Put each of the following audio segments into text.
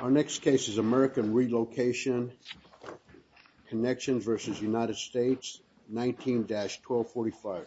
Our next case is American Relocation Connection v. United States, 19-1245. The case is American Relocation Connection v. United States, 19-1245.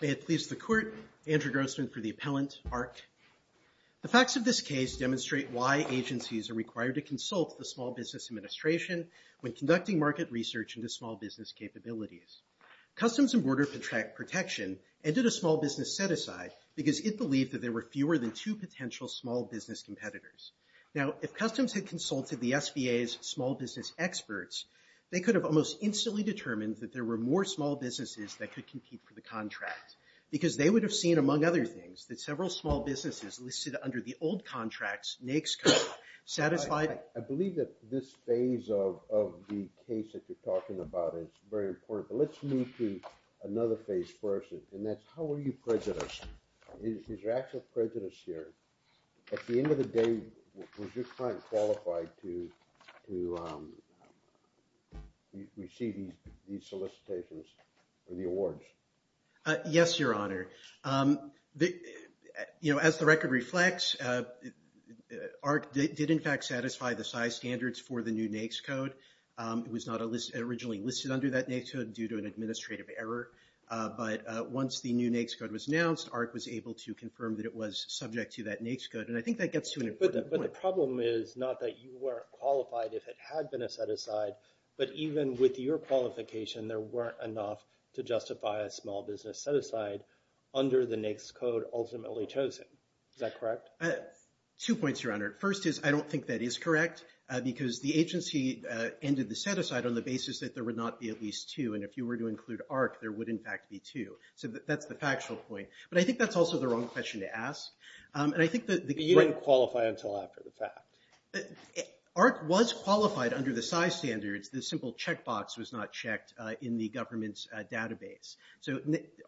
May it please the Court, Andrew Grossman for the Appellant, ARC. The facts of this case demonstrate why agencies are required to consult the Small Business Administration when conducting market research into small business capabilities. Customs and Border Protection ended a small business set-aside because it believed that there were fewer than two potential small business competitors. Now if Customs had consulted the SBA's small business experts, they could have almost instantly determined that there were more small businesses that could compete for the contract. Because they would have seen, among other things, that several small businesses listed under the old contracts NAICS code satisfied. I believe that this phase of the case that you're talking about is very important, but let's move to another phase first, and that's how are you prejudiced? Is there actual prejudice here? At the end of the day, was your client qualified to receive these solicitations or the awards? Yes, Your Honor. As the record reflects, ARC did in fact satisfy the size standards for the new NAICS code. It was not originally listed under that NAICS code due to an administrative error, but once the new NAICS code was announced, ARC was able to confirm that it was subject to that NAICS code, and I think that gets to an important point. But the problem is not that you weren't qualified if it had been a set-aside, but even with your qualification, there weren't enough to justify a small business set-aside under the NAICS code ultimately chosen. Is that correct? Two points, Your Honor. First is I don't think that is correct, because the agency ended the set-aside on the basis that there would not be at least two, and if you were to include ARC, there would in fact be two. So that's the factual point. But I think that's also the wrong question to ask, and I think that the... But you didn't qualify until after the fact. ARC was qualified under the size standards. The simple checkbox was not checked in the government's database. So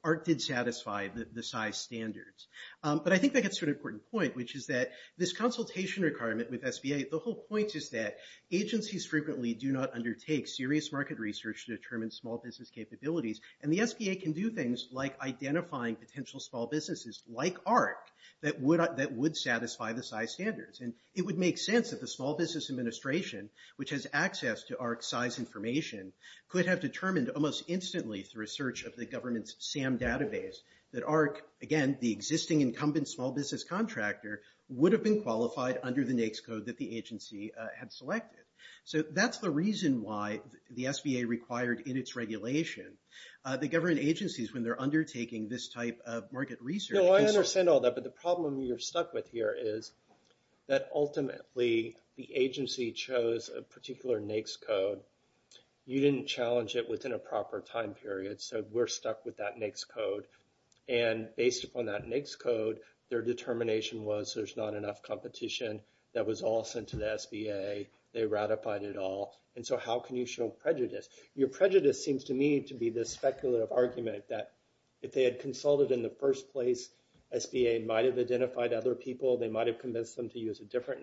ARC did satisfy the size standards. But I think that gets to an important point, which is that this consultation requirement with SBA, the whole point is that agencies frequently do not undertake serious market research to determine small business capabilities, and the SBA can do things like identifying potential small businesses like ARC that would satisfy the size standards. And it would make sense that the Small Business Administration, which has access to ARC size information, could have determined almost instantly through a search of the government's SAM database that ARC, again, the existing incumbent small business contractor, would have been qualified under the NAICS code that the agency had selected. So that's the reason why the SBA required in its regulation that government agencies, when they're undertaking this type of market research... That ultimately, the agency chose a particular NAICS code. You didn't challenge it within a proper time period, so we're stuck with that NAICS code. And based upon that NAICS code, their determination was there's not enough competition. That was all sent to the SBA. They ratified it all. And so how can you show prejudice? Your prejudice seems to me to be this speculative argument that if they had consulted in the different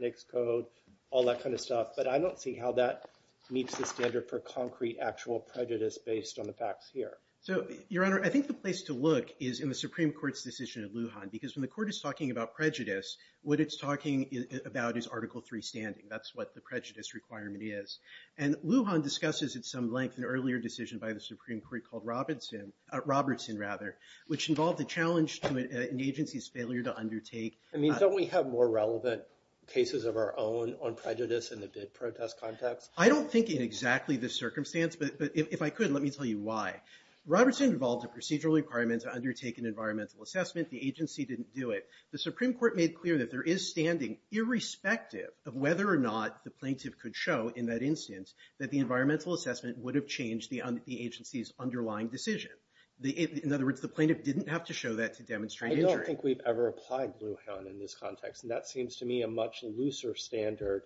NAICS code, all that kind of stuff. But I don't see how that meets the standard for concrete, actual prejudice based on the facts here. So, Your Honor, I think the place to look is in the Supreme Court's decision in Lujan. Because when the Court is talking about prejudice, what it's talking about is Article 3 standing. That's what the prejudice requirement is. And Lujan discusses at some length an earlier decision by the Supreme Court called Robertson, which involved a challenge to an agency's failure to undertake... I mean, don't we have more relevant cases of our own on prejudice in the bid protest context? I don't think in exactly this circumstance. But if I could, let me tell you why. Robertson involved a procedural requirement to undertake an environmental assessment. The agency didn't do it. The Supreme Court made clear that there is standing, irrespective of whether or not the plaintiff could show in that instance that the environmental assessment would have changed the agency's underlying decision. In other words, the plaintiff didn't have to show that to demonstrate injury. I don't think we've ever applied Lujan in this context. And that seems to me a much looser standard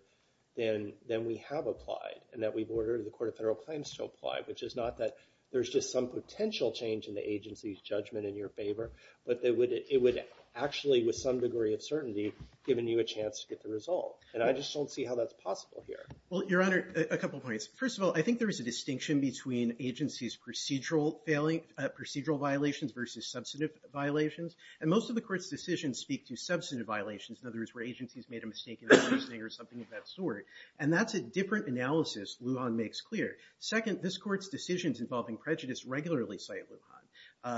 than we have applied and that we've ordered the Court of Federal Claims to apply, which is not that there's just some potential change in the agency's judgment in your favor, but it would actually, with some degree of certainty, given you a chance to get the result. And I just don't see how that's possible here. Well, Your Honor, a couple points. First of all, I think there is a distinction between agencies' procedural violations versus substantive violations. And most of the Court's decisions speak to substantive violations. In other words, where agencies made a mistake in their reasoning or something of that sort. And that's a different analysis Lujan makes clear. Second, this Court's decisions involving prejudice regularly cite Lujan.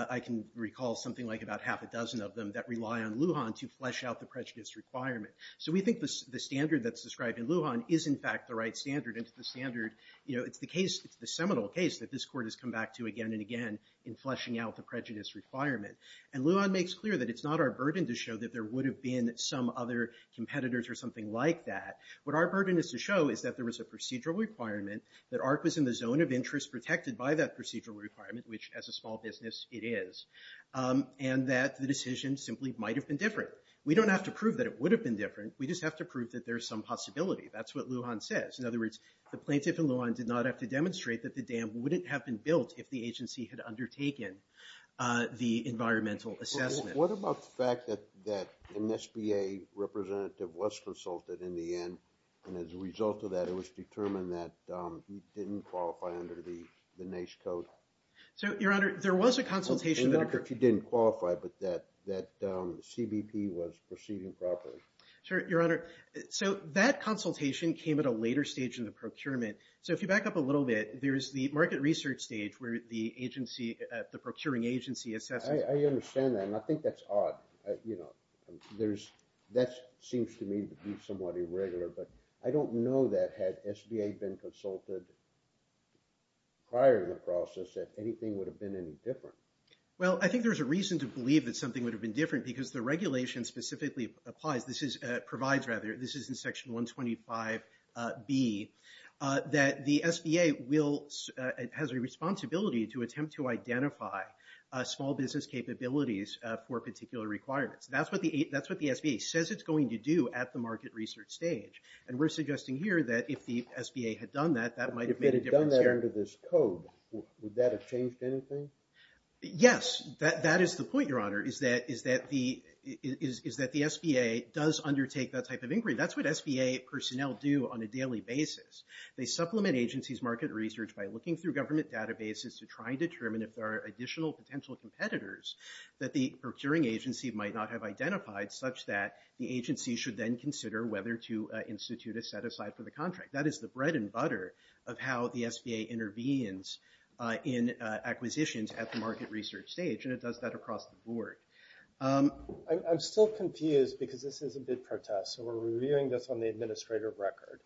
I can recall something like about half a dozen of them that rely on Lujan to flesh out the prejudice requirement. So we think the standard that's described in Lujan is, in fact, the right standard. And it's the standard, you know, it's the case, it's the seminal case that this Court has come back to again and again in fleshing out the prejudice requirement. And Lujan makes clear that it's not our burden to show that there would have been some other competitors or something like that. What our burden is to show is that there was a procedural requirement, that ARC was in the zone of interest protected by that procedural requirement, which as a small business it is, and that the decision simply might have been different. We don't have to prove that it would have been different. We just have to prove that there's some possibility. That's what Lujan says. In other words, the plaintiff in Lujan did not have to demonstrate that the dam wouldn't have been built if the agency had undertaken the environmental assessment. What about the fact that an SBA representative was consulted in the end, and as a result of that it was determined that he didn't qualify under the NACE code? So, Your Honor, there was a consultation that occurred. And not that he didn't qualify, but that CBP was proceeding properly. Sure, Your Honor. So that consultation came at a later stage in the procurement. So if you back up a little bit, there's the market research stage where the agency, the procuring agency assesses. I understand that, and I think that's odd. You know, that seems to me to be somewhat irregular, but I don't know that had SBA been consulted prior to the process that anything would have been any different. Well, I think there's a reason to believe that something would have been different, because the regulation specifically applies. This is, provides rather, this is in Section 125B, that the SBA will, has a responsibility to attempt to identify small business capabilities for particular requirements. That's what the SBA says it's going to do at the market research stage. And we're suggesting here that if the SBA had done that, that might have made a difference here. If they had done that under this code, would that have changed anything? Yes. That is the point, Your Honor, is that the SBA does undertake that type of inquiry. That's what SBA personnel do on a daily basis. They supplement agency's market research by looking through government databases to try and determine if there are additional potential competitors that the procuring agency might not have identified, such that the agency should then consider whether to institute a set-aside for the contract. That is the bread and butter of how the SBA intervenes in acquisitions at the market research stage, and it does that across the board. I'm still confused, because this is a bid protest, so we're reviewing this on the administrative record.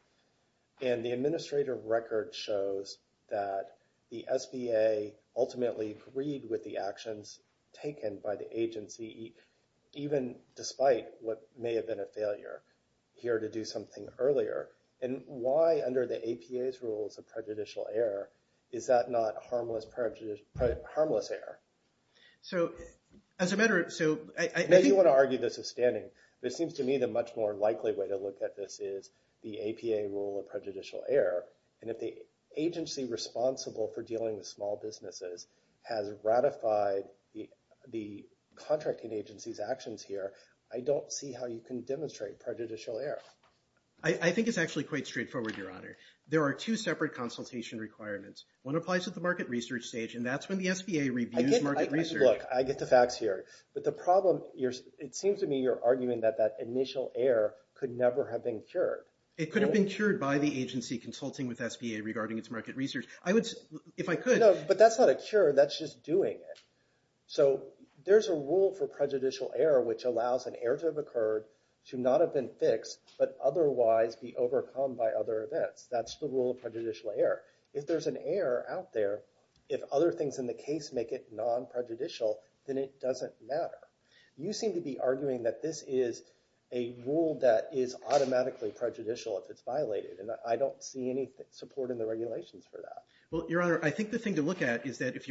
And the administrative record shows that the SBA ultimately agreed with the actions taken by the agency, even despite what may have been a failure, here to do something earlier. And why, under the APA's rules of prejudicial error, is that not harmless error? So, as a matter of... Now, you want to argue this withstanding, but it seems to me the much more likely way to look at this is the APA rule of prejudicial error. And if the agency responsible for dealing with small businesses has ratified the contracting agency's actions here, I don't see how you can demonstrate prejudicial error. I think it's actually quite straightforward, Your Honor. There are two separate consultation requirements. One applies at the market research stage, and that's when the SBA reviews market research. Look, I get the facts here. But the problem, it seems to me you're arguing that that initial error could never have been cured. It could have been cured by the agency consulting with SBA regarding its market research. I would, if I could... No, but that's not a cure. That's just doing it. So, there's a rule for prejudicial error which allows an error to have occurred to not have been fixed, but otherwise be overcome by other events. That's the rule of prejudicial error. If there's an error out there, if other things in the case make it non-prejudicial, then it doesn't matter. You seem to be arguing that this is a rule that is automatically prejudicial if it's violated, and I don't see any support in the regulations for that. Well, Your Honor, I think the thing to look at is that if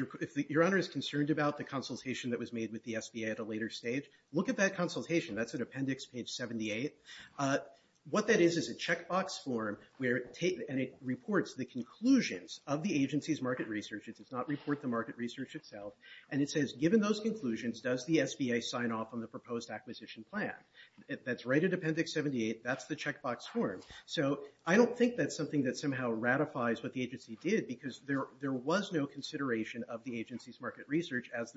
Your Honor is concerned about the consultation that was made with the SBA at a later stage, look at that consultation. That's at appendix page 78. What that is is a checkbox form, and it reports the conclusions of the agency's market research. It does not report the market research itself. And it says, given those conclusions, does the SBA sign off on the proposed acquisition plan? That's right at appendix 78. That's the checkbox form. So, I don't think that's something that somehow ratifies what the agency did because there was no consideration of the agency's market research as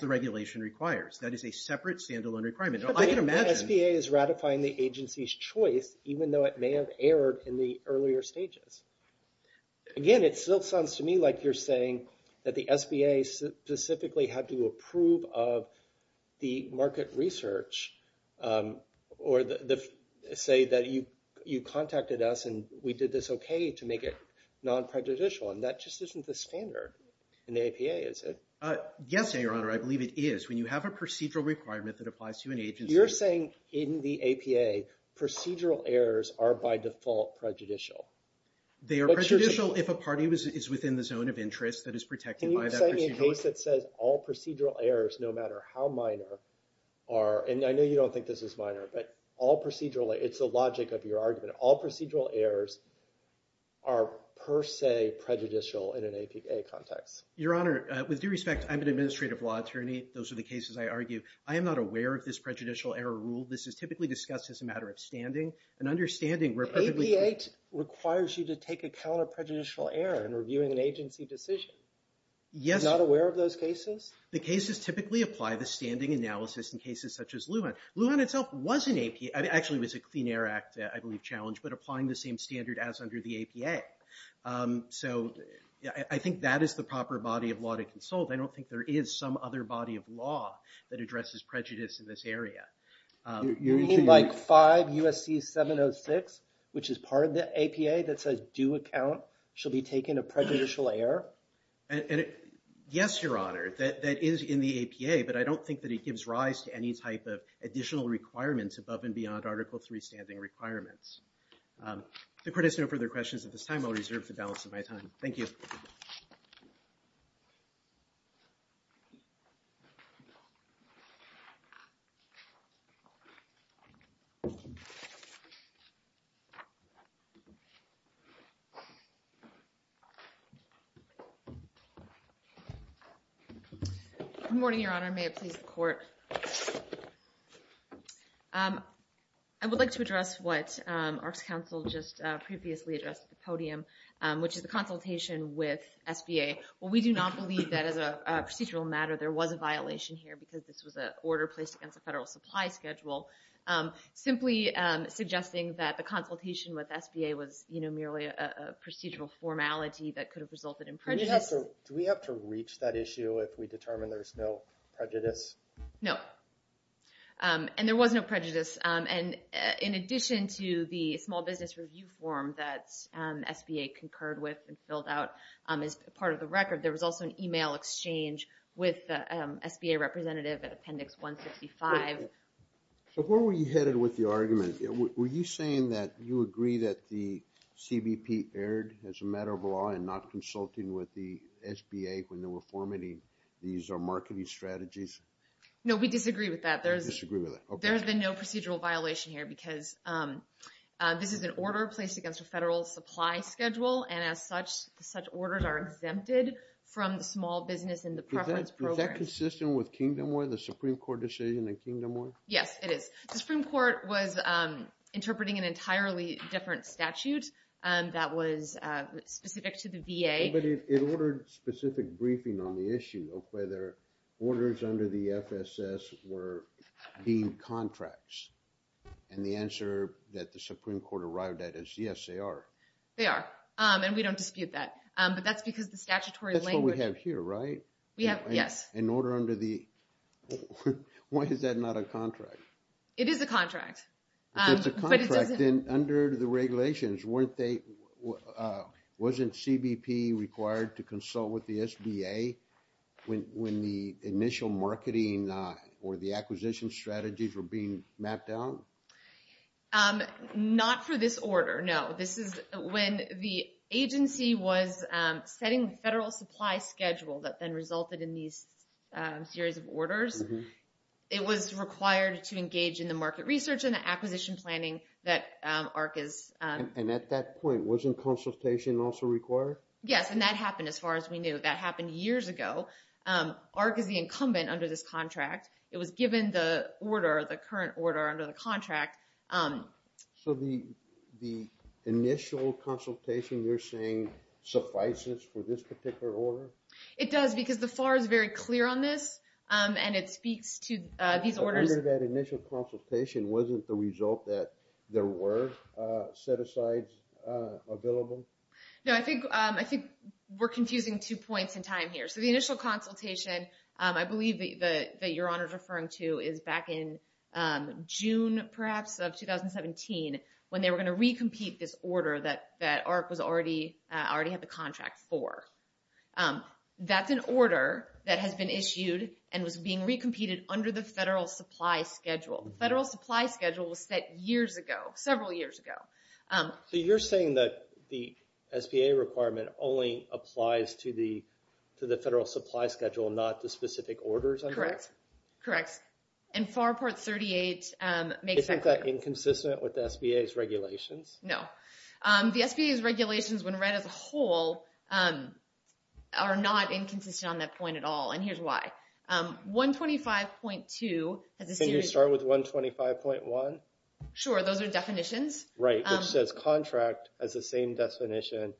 the regulation requires. That is a separate, standalone requirement. I can imagine... But the SBA is ratifying the agency's choice, even though it may have erred in the earlier stages. Again, it still sounds to me like you're saying that the SBA specifically had to approve of the market research, or say that you contacted us and we did this okay to make it non-prejudicial, and that just isn't the standard in the APA, is it? Yes, Your Honor, I believe it is. When you have a procedural requirement that applies to an agency... You're saying in the APA, procedural errors are by default prejudicial. They are prejudicial if a party is within the zone of interest that is protected by that procedural... Can you cite me a case that says all procedural errors, no matter how minor, are... And I know you don't think this is minor, but all procedural... It's the logic of your argument. All procedural errors are per se prejudicial in an APA context. Your Honor, with due respect, I'm an administrative law attorney. Those are the cases I argue. I am not aware of this prejudicial error rule. This is typically discussed as a matter of standing and understanding where... APA requires you to take account of prejudicial error in reviewing an agency decision. Yes. You're not aware of those cases? The cases typically apply the standing analysis in cases such as Lujan. Lujan itself was an APA... Actually, it was a Clean Air Act, I believe, challenge, but applying the same standard as under the APA. So I think that is the proper body of law to consult. I don't think there is some other body of law that addresses prejudice in this area. You mean like 5 U.S.C. 706, which is part of the APA, that says due account shall be taken of prejudicial error? Yes, Your Honor. That is in the APA, but I don't think that it gives rise to any type of additional requirements above and beyond Article III standing requirements. If the Court has no further questions at this time, I'll reserve the balance of my time. Thank you. Good morning, Your Honor. May it please the Court. I would like to address what ARC's counsel just previously addressed at the podium, which is the consultation with SBA. Well, we do not believe that as a procedural matter there was a violation here because this was an order placed against a federal supply schedule. Simply suggesting that the consultation with SBA was merely a procedural formality that could have resulted in prejudice... Do we have to reach that issue if we determine there's no prejudice? No. And there was no prejudice. And in addition to the small business review form that SBA concurred with and filled out as part of the record, there was also an email exchange with the SBA representative at Appendix 165. So where were you headed with the argument? Were you saying that you agree that the CBP erred as a matter of law and not consulting with the SBA when they were formatting these marketing strategies? No, we disagree with that. There has been no procedural violation here because this is an order placed against a federal supply schedule, and as such, such orders are exempted from the small business and the preference program. Is that consistent with Kingdom Law, the Supreme Court decision in Kingdom Law? Yes, it is. The Supreme Court was interpreting an entirely different statute that was specific to the VA. But it ordered specific briefing on the issue of whether orders under the FSS were deemed contracts. And the answer that the Supreme Court arrived at is yes, they are. They are, and we don't dispute that. But that's because the statutory language... That's what we have here, right? Yes. An order under the... Why is that not a contract? It is a contract. It's a contract, and under the regulations, wasn't CBP required to consult with the SBA when the initial marketing or the acquisition strategies were being mapped out? Not for this order, no. This is when the agency was setting the federal supply schedule that then resulted in these series of orders. It was required to engage in the market research and the acquisition planning that AHRQ is... And at that point, wasn't consultation also required? Yes, and that happened as far as we knew. That happened years ago. AHRQ is the incumbent under this contract. It was given the order, the current order under the contract. So the initial consultation you're saying suffices for this particular order? It does, because the FAR is very clear on this, and it speaks to these orders. But under that initial consultation, wasn't the result that there were set-asides available? No, I think we're confusing two points in time here. So the initial consultation, I believe that Your Honor is referring to, is back in June, perhaps, of 2017, when they were going to recompete this order that AHRQ already had the contract for. That's an order that has been issued and was being recompeted under the Federal Supply Schedule. The Federal Supply Schedule was set years ago, several years ago. So you're saying that the SBA requirement only applies to the Federal Supply Schedule, not the specific orders under it? Correct, correct. And FAR Part 38 makes that clear. Is that inconsistent with SBA's regulations? No. The SBA's regulations, when read as a whole, are not inconsistent on that point at all, and here's why. 125.2 has a series of... Can you start with 125.1? Sure, those are definitions. Right, which says contract has the same definition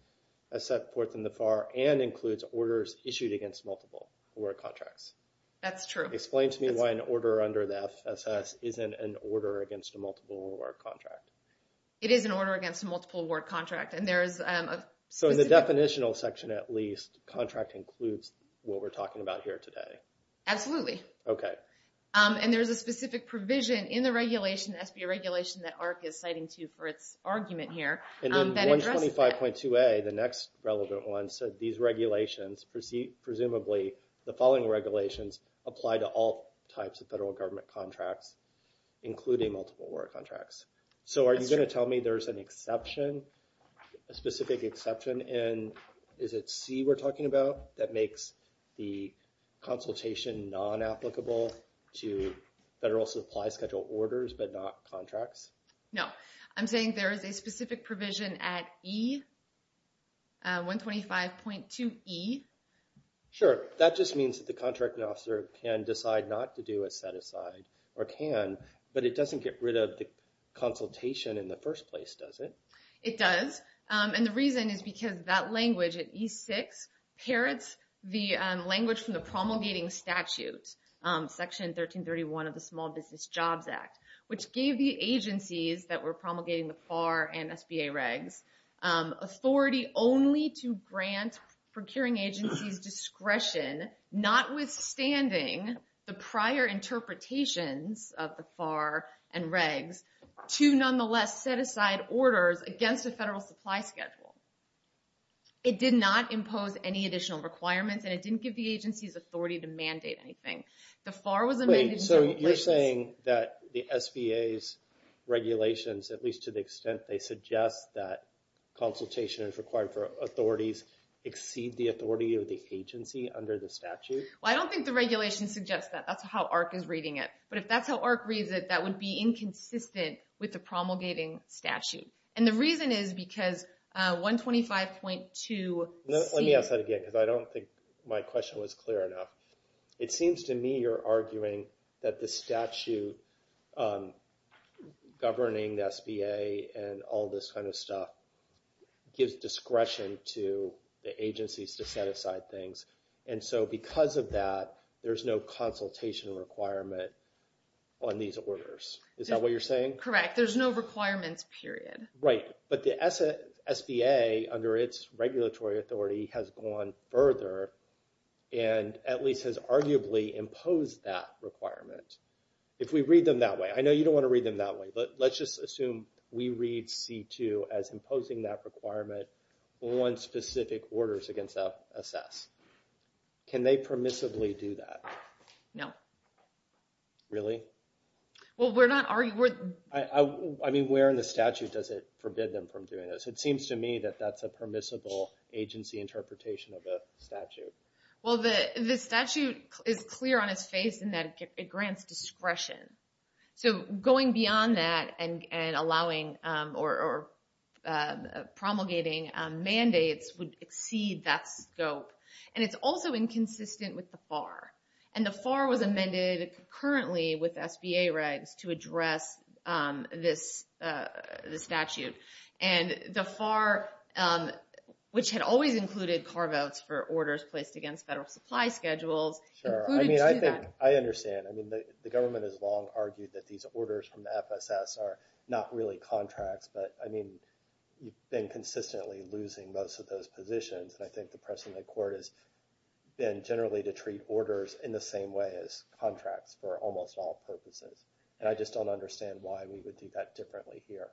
as set forth in the FAR and includes orders issued against multiple award contracts. That's true. Explain to me why an order under the FSS isn't an order against a multiple award contract. It is an order against a multiple award contract, and there is a specific... So in the definitional section, at least, contract includes what we're talking about here today. Absolutely. Okay. And there's a specific provision in the regulation, SBA regulation, that AHRQ is citing to for its argument here that addresses that. And then 125.2a, the next relevant one, said these regulations, presumably the following regulations, apply to all types of Federal Government contracts, including multiple award contracts. So are you going to tell me there's an exception, a specific exception in, is it C we're talking about, that makes the consultation non-applicable to Federal Supply Schedule orders but not contracts? No. I'm saying there is a specific provision at E, 125.2E. Sure. That just means that the contracting officer can decide not to do a set-aside, or can, but it doesn't get rid of the consultation in the first place, does it? It does. And the reason is because that language at E6 parrots the language from the promulgating statute, Section 1331 of the Small Business Jobs Act, which gave the agencies that were promulgating the FAR and SBA regs authority only to grant procuring agencies discretion, notwithstanding the prior interpretations of the FAR and regs, to nonetheless set-aside orders against a Federal Supply Schedule. It did not impose any additional requirements and it didn't give the agencies authority to mandate anything. The FAR was amended to... Wait, so you're saying that the SBA's regulations, at least to the extent they suggest that consultation is required for authorities exceed the authority of the agency under the statute? Well, I don't think the regulations suggest that. That's how AHRQ is reading it. But if that's how AHRQ reads it, that would be inconsistent with the promulgating statute. And the reason is because 125.2C... Let me ask that again because I don't think my question was clear enough. It seems to me you're arguing that the statute governing the SBA and all this kind of stuff gives discretion to the agencies to set aside things. And so because of that, there's no consultation requirement on these orders. Is that what you're saying? Correct. There's no requirements, period. Right. But the SBA, under its regulatory authority, has gone further and at least has arguably imposed that requirement. If we read them that way... I know you don't want to read them that way, but let's just assume we read C2 as imposing that requirement on specific orders against the SS. Can they permissibly do that? No. Really? Well, we're not arguing... I mean, where in the statute does it forbid them from doing this? It seems to me that that's a permissible agency interpretation of the statute. Well, the statute is clear on its face in that it grants discretion. So going beyond that and allowing or promulgating mandates would exceed that scope. And it's also inconsistent with the FAR. And the FAR was amended concurrently with SBA regs to address this statute. And the FAR, which had always included carve-outs for orders placed against federal supply schedules... Sure. I mean, I think I understand. I mean, the government has long argued that these orders from the FSS are not really contracts. But, I mean, you've been consistently losing most of those positions. And I think the President of the Court has been generally to treat orders in the same way as contracts for almost all purposes. And I just don't understand why we would do that differently here.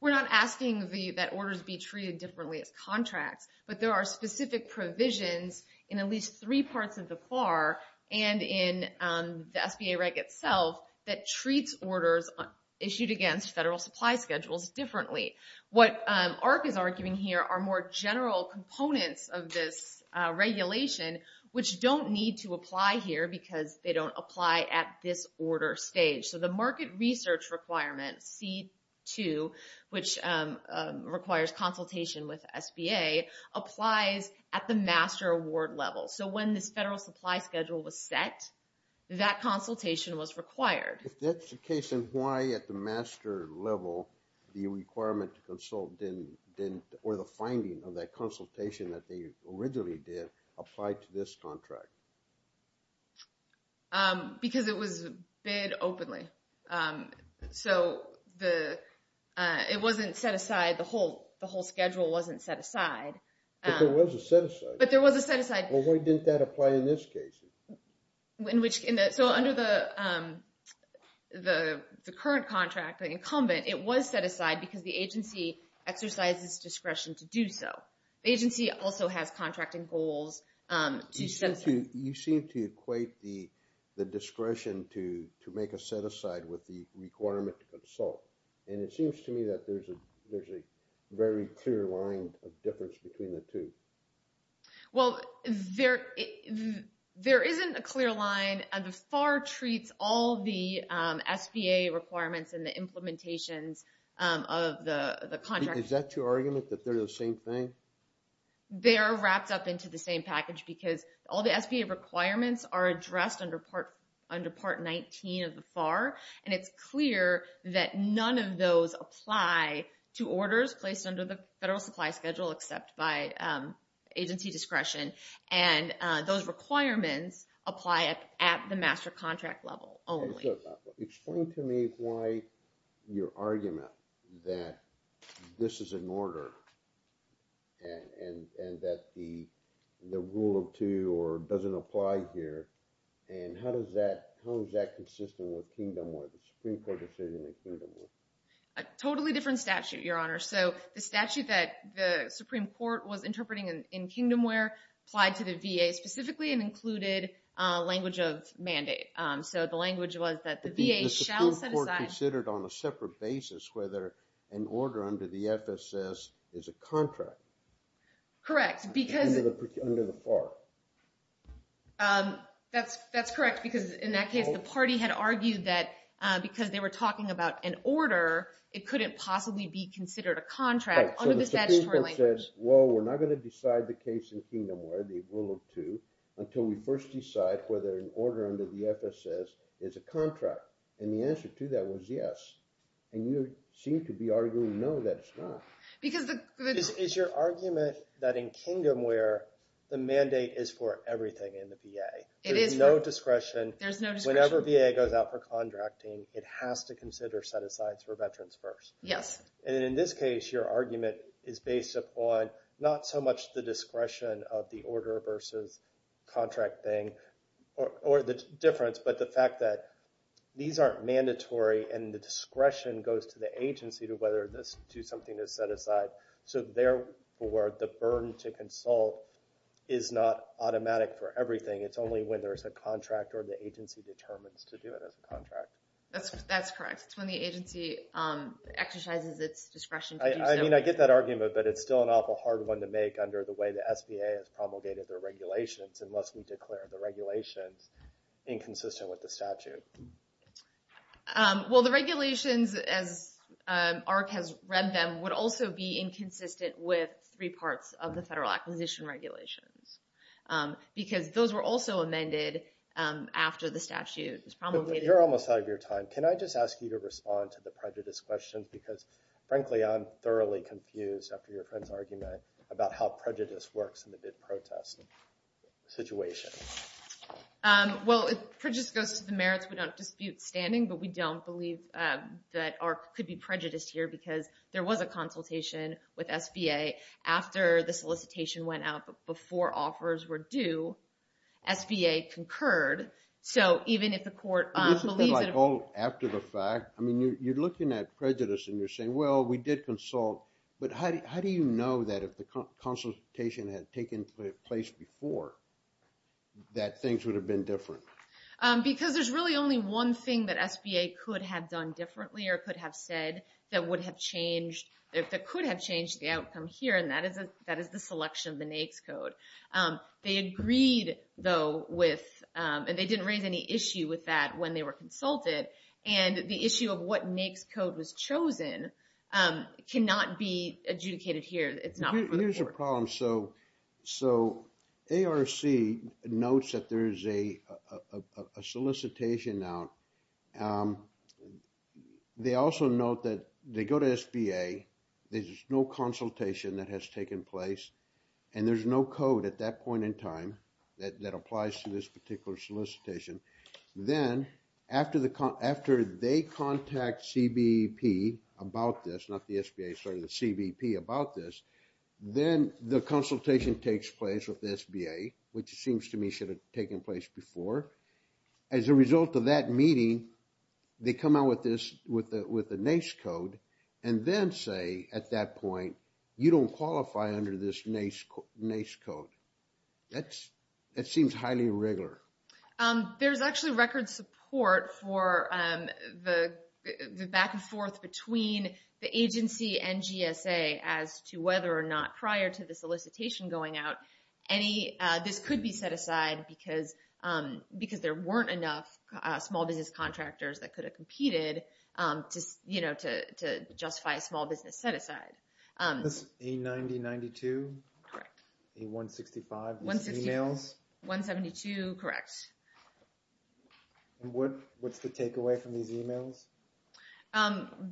We're not asking that orders be treated differently as contracts. But there are specific provisions in at least three parts of the FAR and in the SBA reg itself that treats orders issued against federal supply schedules differently. What AHRQ is arguing here are more general components of this regulation, which don't need to apply here because they don't apply at this order stage. So the market research requirement, C2, which requires consultation with SBA, applies at the master award level. So when this federal supply schedule was set, that consultation was required. If that's the case, then why at the master level the requirement to consult didn't... or the finding of that consultation that they originally did apply to this contract? Because it was bid openly. So it wasn't set aside, the whole schedule wasn't set aside. But there was a set aside. But there was a set aside. Well, why didn't that apply in this case? So under the current contract, the incumbent, it was set aside because the agency exercises discretion to do so. The agency also has contracting goals to set aside. You seem to equate the discretion to make a set aside with the requirement to consult. And it seems to me that there's a very clear line of difference between the two. Well, there isn't a clear line. The FAR treats all the SBA requirements and the implementations of the contract... Is that your argument, that they're the same thing? They are wrapped up into the same package because all the SBA requirements are addressed under Part 19 of the FAR. And it's clear that none of those apply to orders placed under the federal supply schedule except by agency discretion. And those requirements apply at the master contract level only. Explain to me why your argument that this is an order and that the rule of two doesn't apply here. And how is that consistent with Kingdomware, the Supreme Court decision in Kingdomware? A totally different statute, Your Honor. So the statute that the Supreme Court was interpreting in Kingdomware applied to the VA specifically and included language of mandate. So the language was that the VA shall set aside... The Supreme Court considered on a separate basis whether an order under the FSS is a contract. Correct, because... Under the FAR. That's correct, because in that case, the party had argued that because they were talking about an order, it couldn't possibly be considered a contract under the statutory language. Well, we're not going to decide the case in Kingdomware, the rule of two, until we first decide whether an order under the FSS is a contract. And the answer to that was yes. And you seem to be arguing no, that it's not. Because the... Is your argument that in Kingdomware, the mandate is for everything in the VA? It is for... There's no discretion. There's no discretion. Whenever VA goes out for contracting, it has to consider set-asides for veterans first. Yes. And in this case, your argument is based upon not so much the discretion of the order versus contract thing, or the difference, but the fact that these aren't mandatory, and the discretion goes to the agency to whether to do something to set aside. So therefore, the burden to consult is not automatic for everything. It's only when there's a contract or the agency determines to do it as a contract. That's correct. It's when the agency exercises its discretion to do something. I get that argument, but it's still an awful hard one to make under the way the SBA has promulgated their regulations, unless we declare the regulations inconsistent with the statute. Well, the regulations, as AHRQ has read them, would also be inconsistent with three parts of the Federal Acquisition Regulations. Because those were also amended after the statute was promulgated. You're almost out of your time. Can I just ask you to respond to the prejudice questions? Because, frankly, I'm thoroughly confused, after your friend's argument, about how prejudice works in the bid protest situation. Well, prejudice goes to the merits. We don't dispute standing, but we don't believe that AHRQ could be prejudiced here, because there was a consultation with SBA after the solicitation went out, but before offers were due, SBA concurred. So, even if the court believes that... But this is, like, all after the fact. I mean, you're looking at prejudice, and you're saying, well, we did consult, but how do you know that if the consultation had taken place before, that things would have been different? Because there's really only one thing that SBA could have done differently, or could have said that would have changed, that could have changed the outcome here, and that is the selection of the NAICS code. They agreed, though, with... And they didn't raise any issue with that when they were consulted, and the issue of what NAICS code was chosen cannot be adjudicated here. It's not for the court. Here's the problem. So, ARC notes that there is a solicitation out. They also note that they go to SBA. There's no consultation that has taken place, and there's no code at that point in time that applies to this particular solicitation. Then, after they contact CBP about this, not the SBA, sorry, the CBP about this, then the consultation takes place with the SBA, which seems to me should have taken place before. As a result of that meeting, they come out with the NAICS code, and then say at that point, you don't qualify under this NAICS code. That seems highly irregular. There's actually record support for the back and forth between the agency and GSA as to whether or not prior to the solicitation going out, this could be set aside because there weren't enough small business contractors that could have competed to justify a small business set aside. Is this A9092? Correct. A165? 165. These emails? 172. Correct. What's the takeaway from these emails?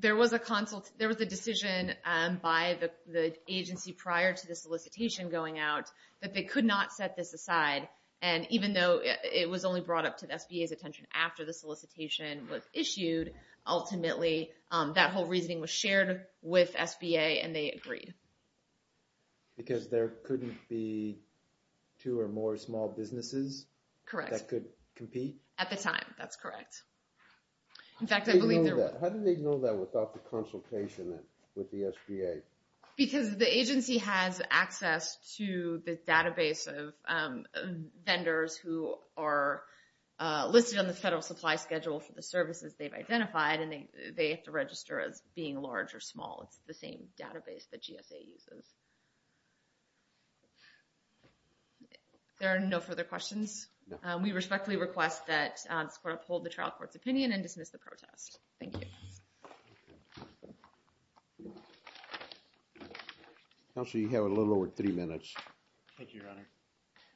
There was a decision by the agency prior to the solicitation going out that they could not set this aside, and even though it was only brought up to the SBA's attention after the solicitation was issued, ultimately that whole reasoning was shared with SBA and they agreed. Because there couldn't be two or more small businesses that could compete? Correct. At the time, that's correct. How did they know that without the consultation with the SBA? Because the agency has access to the database of vendors who are listed on the federal supply schedule for the services they've identified, and they have to register as being large or small. It's the same database that GSA uses. If there are no further questions, we respectfully request that this court uphold the trial court's opinion and dismiss the protest. Thank you. Counsel, you have a little over three minutes. Thank you, Your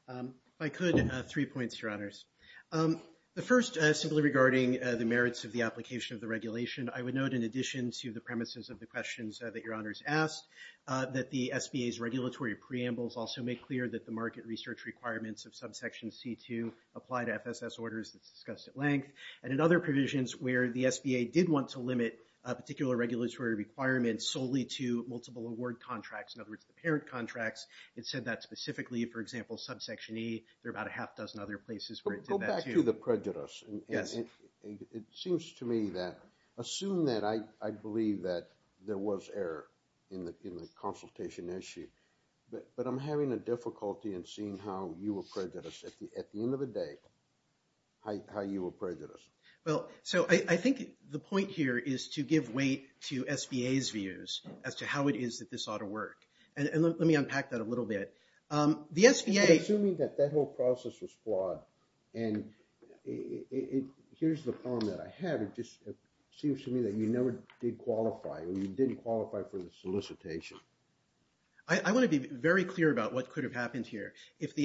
Honor. If I could, three points, Your Honors. The first, simply regarding the merits of the application of the regulation, I would note in addition to the premises of the questions that Your Honors asked, that the SBA's regulatory preambles also make clear that the market research requirements of subsection C2 apply to FSS orders that's discussed at length, and in other provisions where the SBA did want to limit a particular regulatory requirement solely to multiple award contracts, in other words the parent contracts. It said that specifically, for example, subsection E. There are about a half dozen other places where it did that, too. Go back to the prejudice. It seems to me that assume that I believe that there was error in the consultation issue, but I'm having a difficulty in seeing how you were prejudiced at the end of the day, how you were prejudiced. Well, so I think the point here is to give weight to SBA's views as to how it is that this ought to work. And let me unpack that a little bit. Assuming that that whole process was flawed, and here's the problem that I have, it just seems to me that you never did qualify or you didn't qualify for the solicitation. I want to be very clear about what could have happened here. If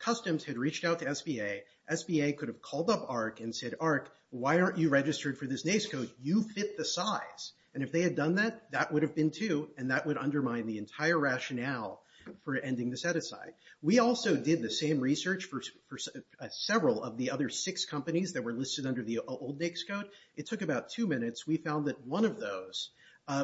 customs had reached out to SBA, SBA could have called up AHRQ and said, AHRQ, why aren't you registered for this NAICS code? You fit the size. And if they had done that, that would have been too, and that would undermine the entire rationale for ending the set-aside. We also did the same research for several of the other six companies that were listed under the old NAICS code. It took about two minutes. We found that one of those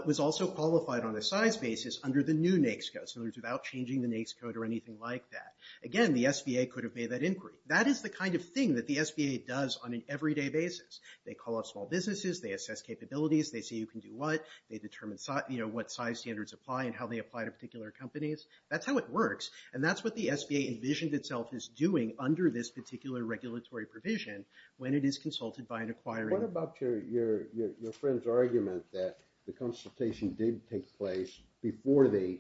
was also qualified on a size basis under the new NAICS code, in other words, without changing the NAICS code or anything like that. Again, the SBA could have made that inquiry. That is the kind of thing that the SBA does on an everyday basis. They call up small businesses. They assess capabilities. They see who can do what. They determine what size standards apply and how they apply to particular companies. That's how it works, and that's what the SBA envisioned itself as doing under this particular regulatory provision when it is consulted by an acquiring. What about your friend's argument that the consultation did take place before they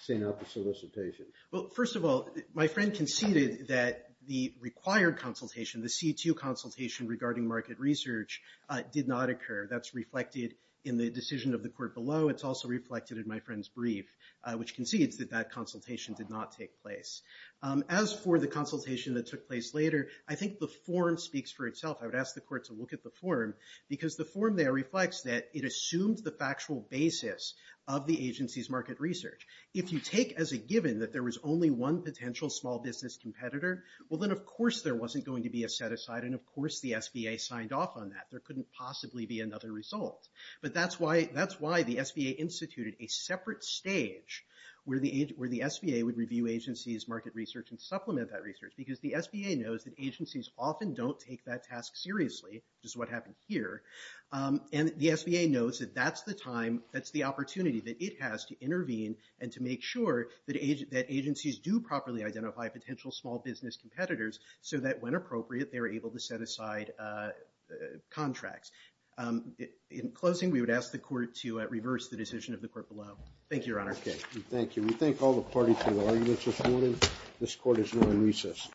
sent out the solicitation? Well, first of all, my friend conceded that the required consultation, the C2 consultation regarding market research, did not occur. That's reflected in the decision of the court below. It's also reflected in my friend's brief, which concedes that that consultation did not take place. As for the consultation that took place later, I think the form speaks for itself. I would ask the court to look at the form, because the form there reflects that it assumed the factual basis of the agency's market research. If you take as a given that there was only one potential small business competitor, well, then of course there wasn't going to be a set-aside, and of course the SBA signed off on that. There couldn't possibly be another result. But that's why the SBA instituted a separate stage where the SBA would review agency's market research and supplement that research, because the SBA knows that agencies often don't take that task seriously, which is what happened here. And the SBA knows that that's the time, that's the opportunity that it has to intervene and to make sure that agencies do properly identify potential small business competitors so that when appropriate, they're able to set aside contracts. In closing, we would ask the court to reverse the decision of the court below. Thank you, Your Honor. Thank you. We thank all the parties for their arguments this morning. This court is now in recess.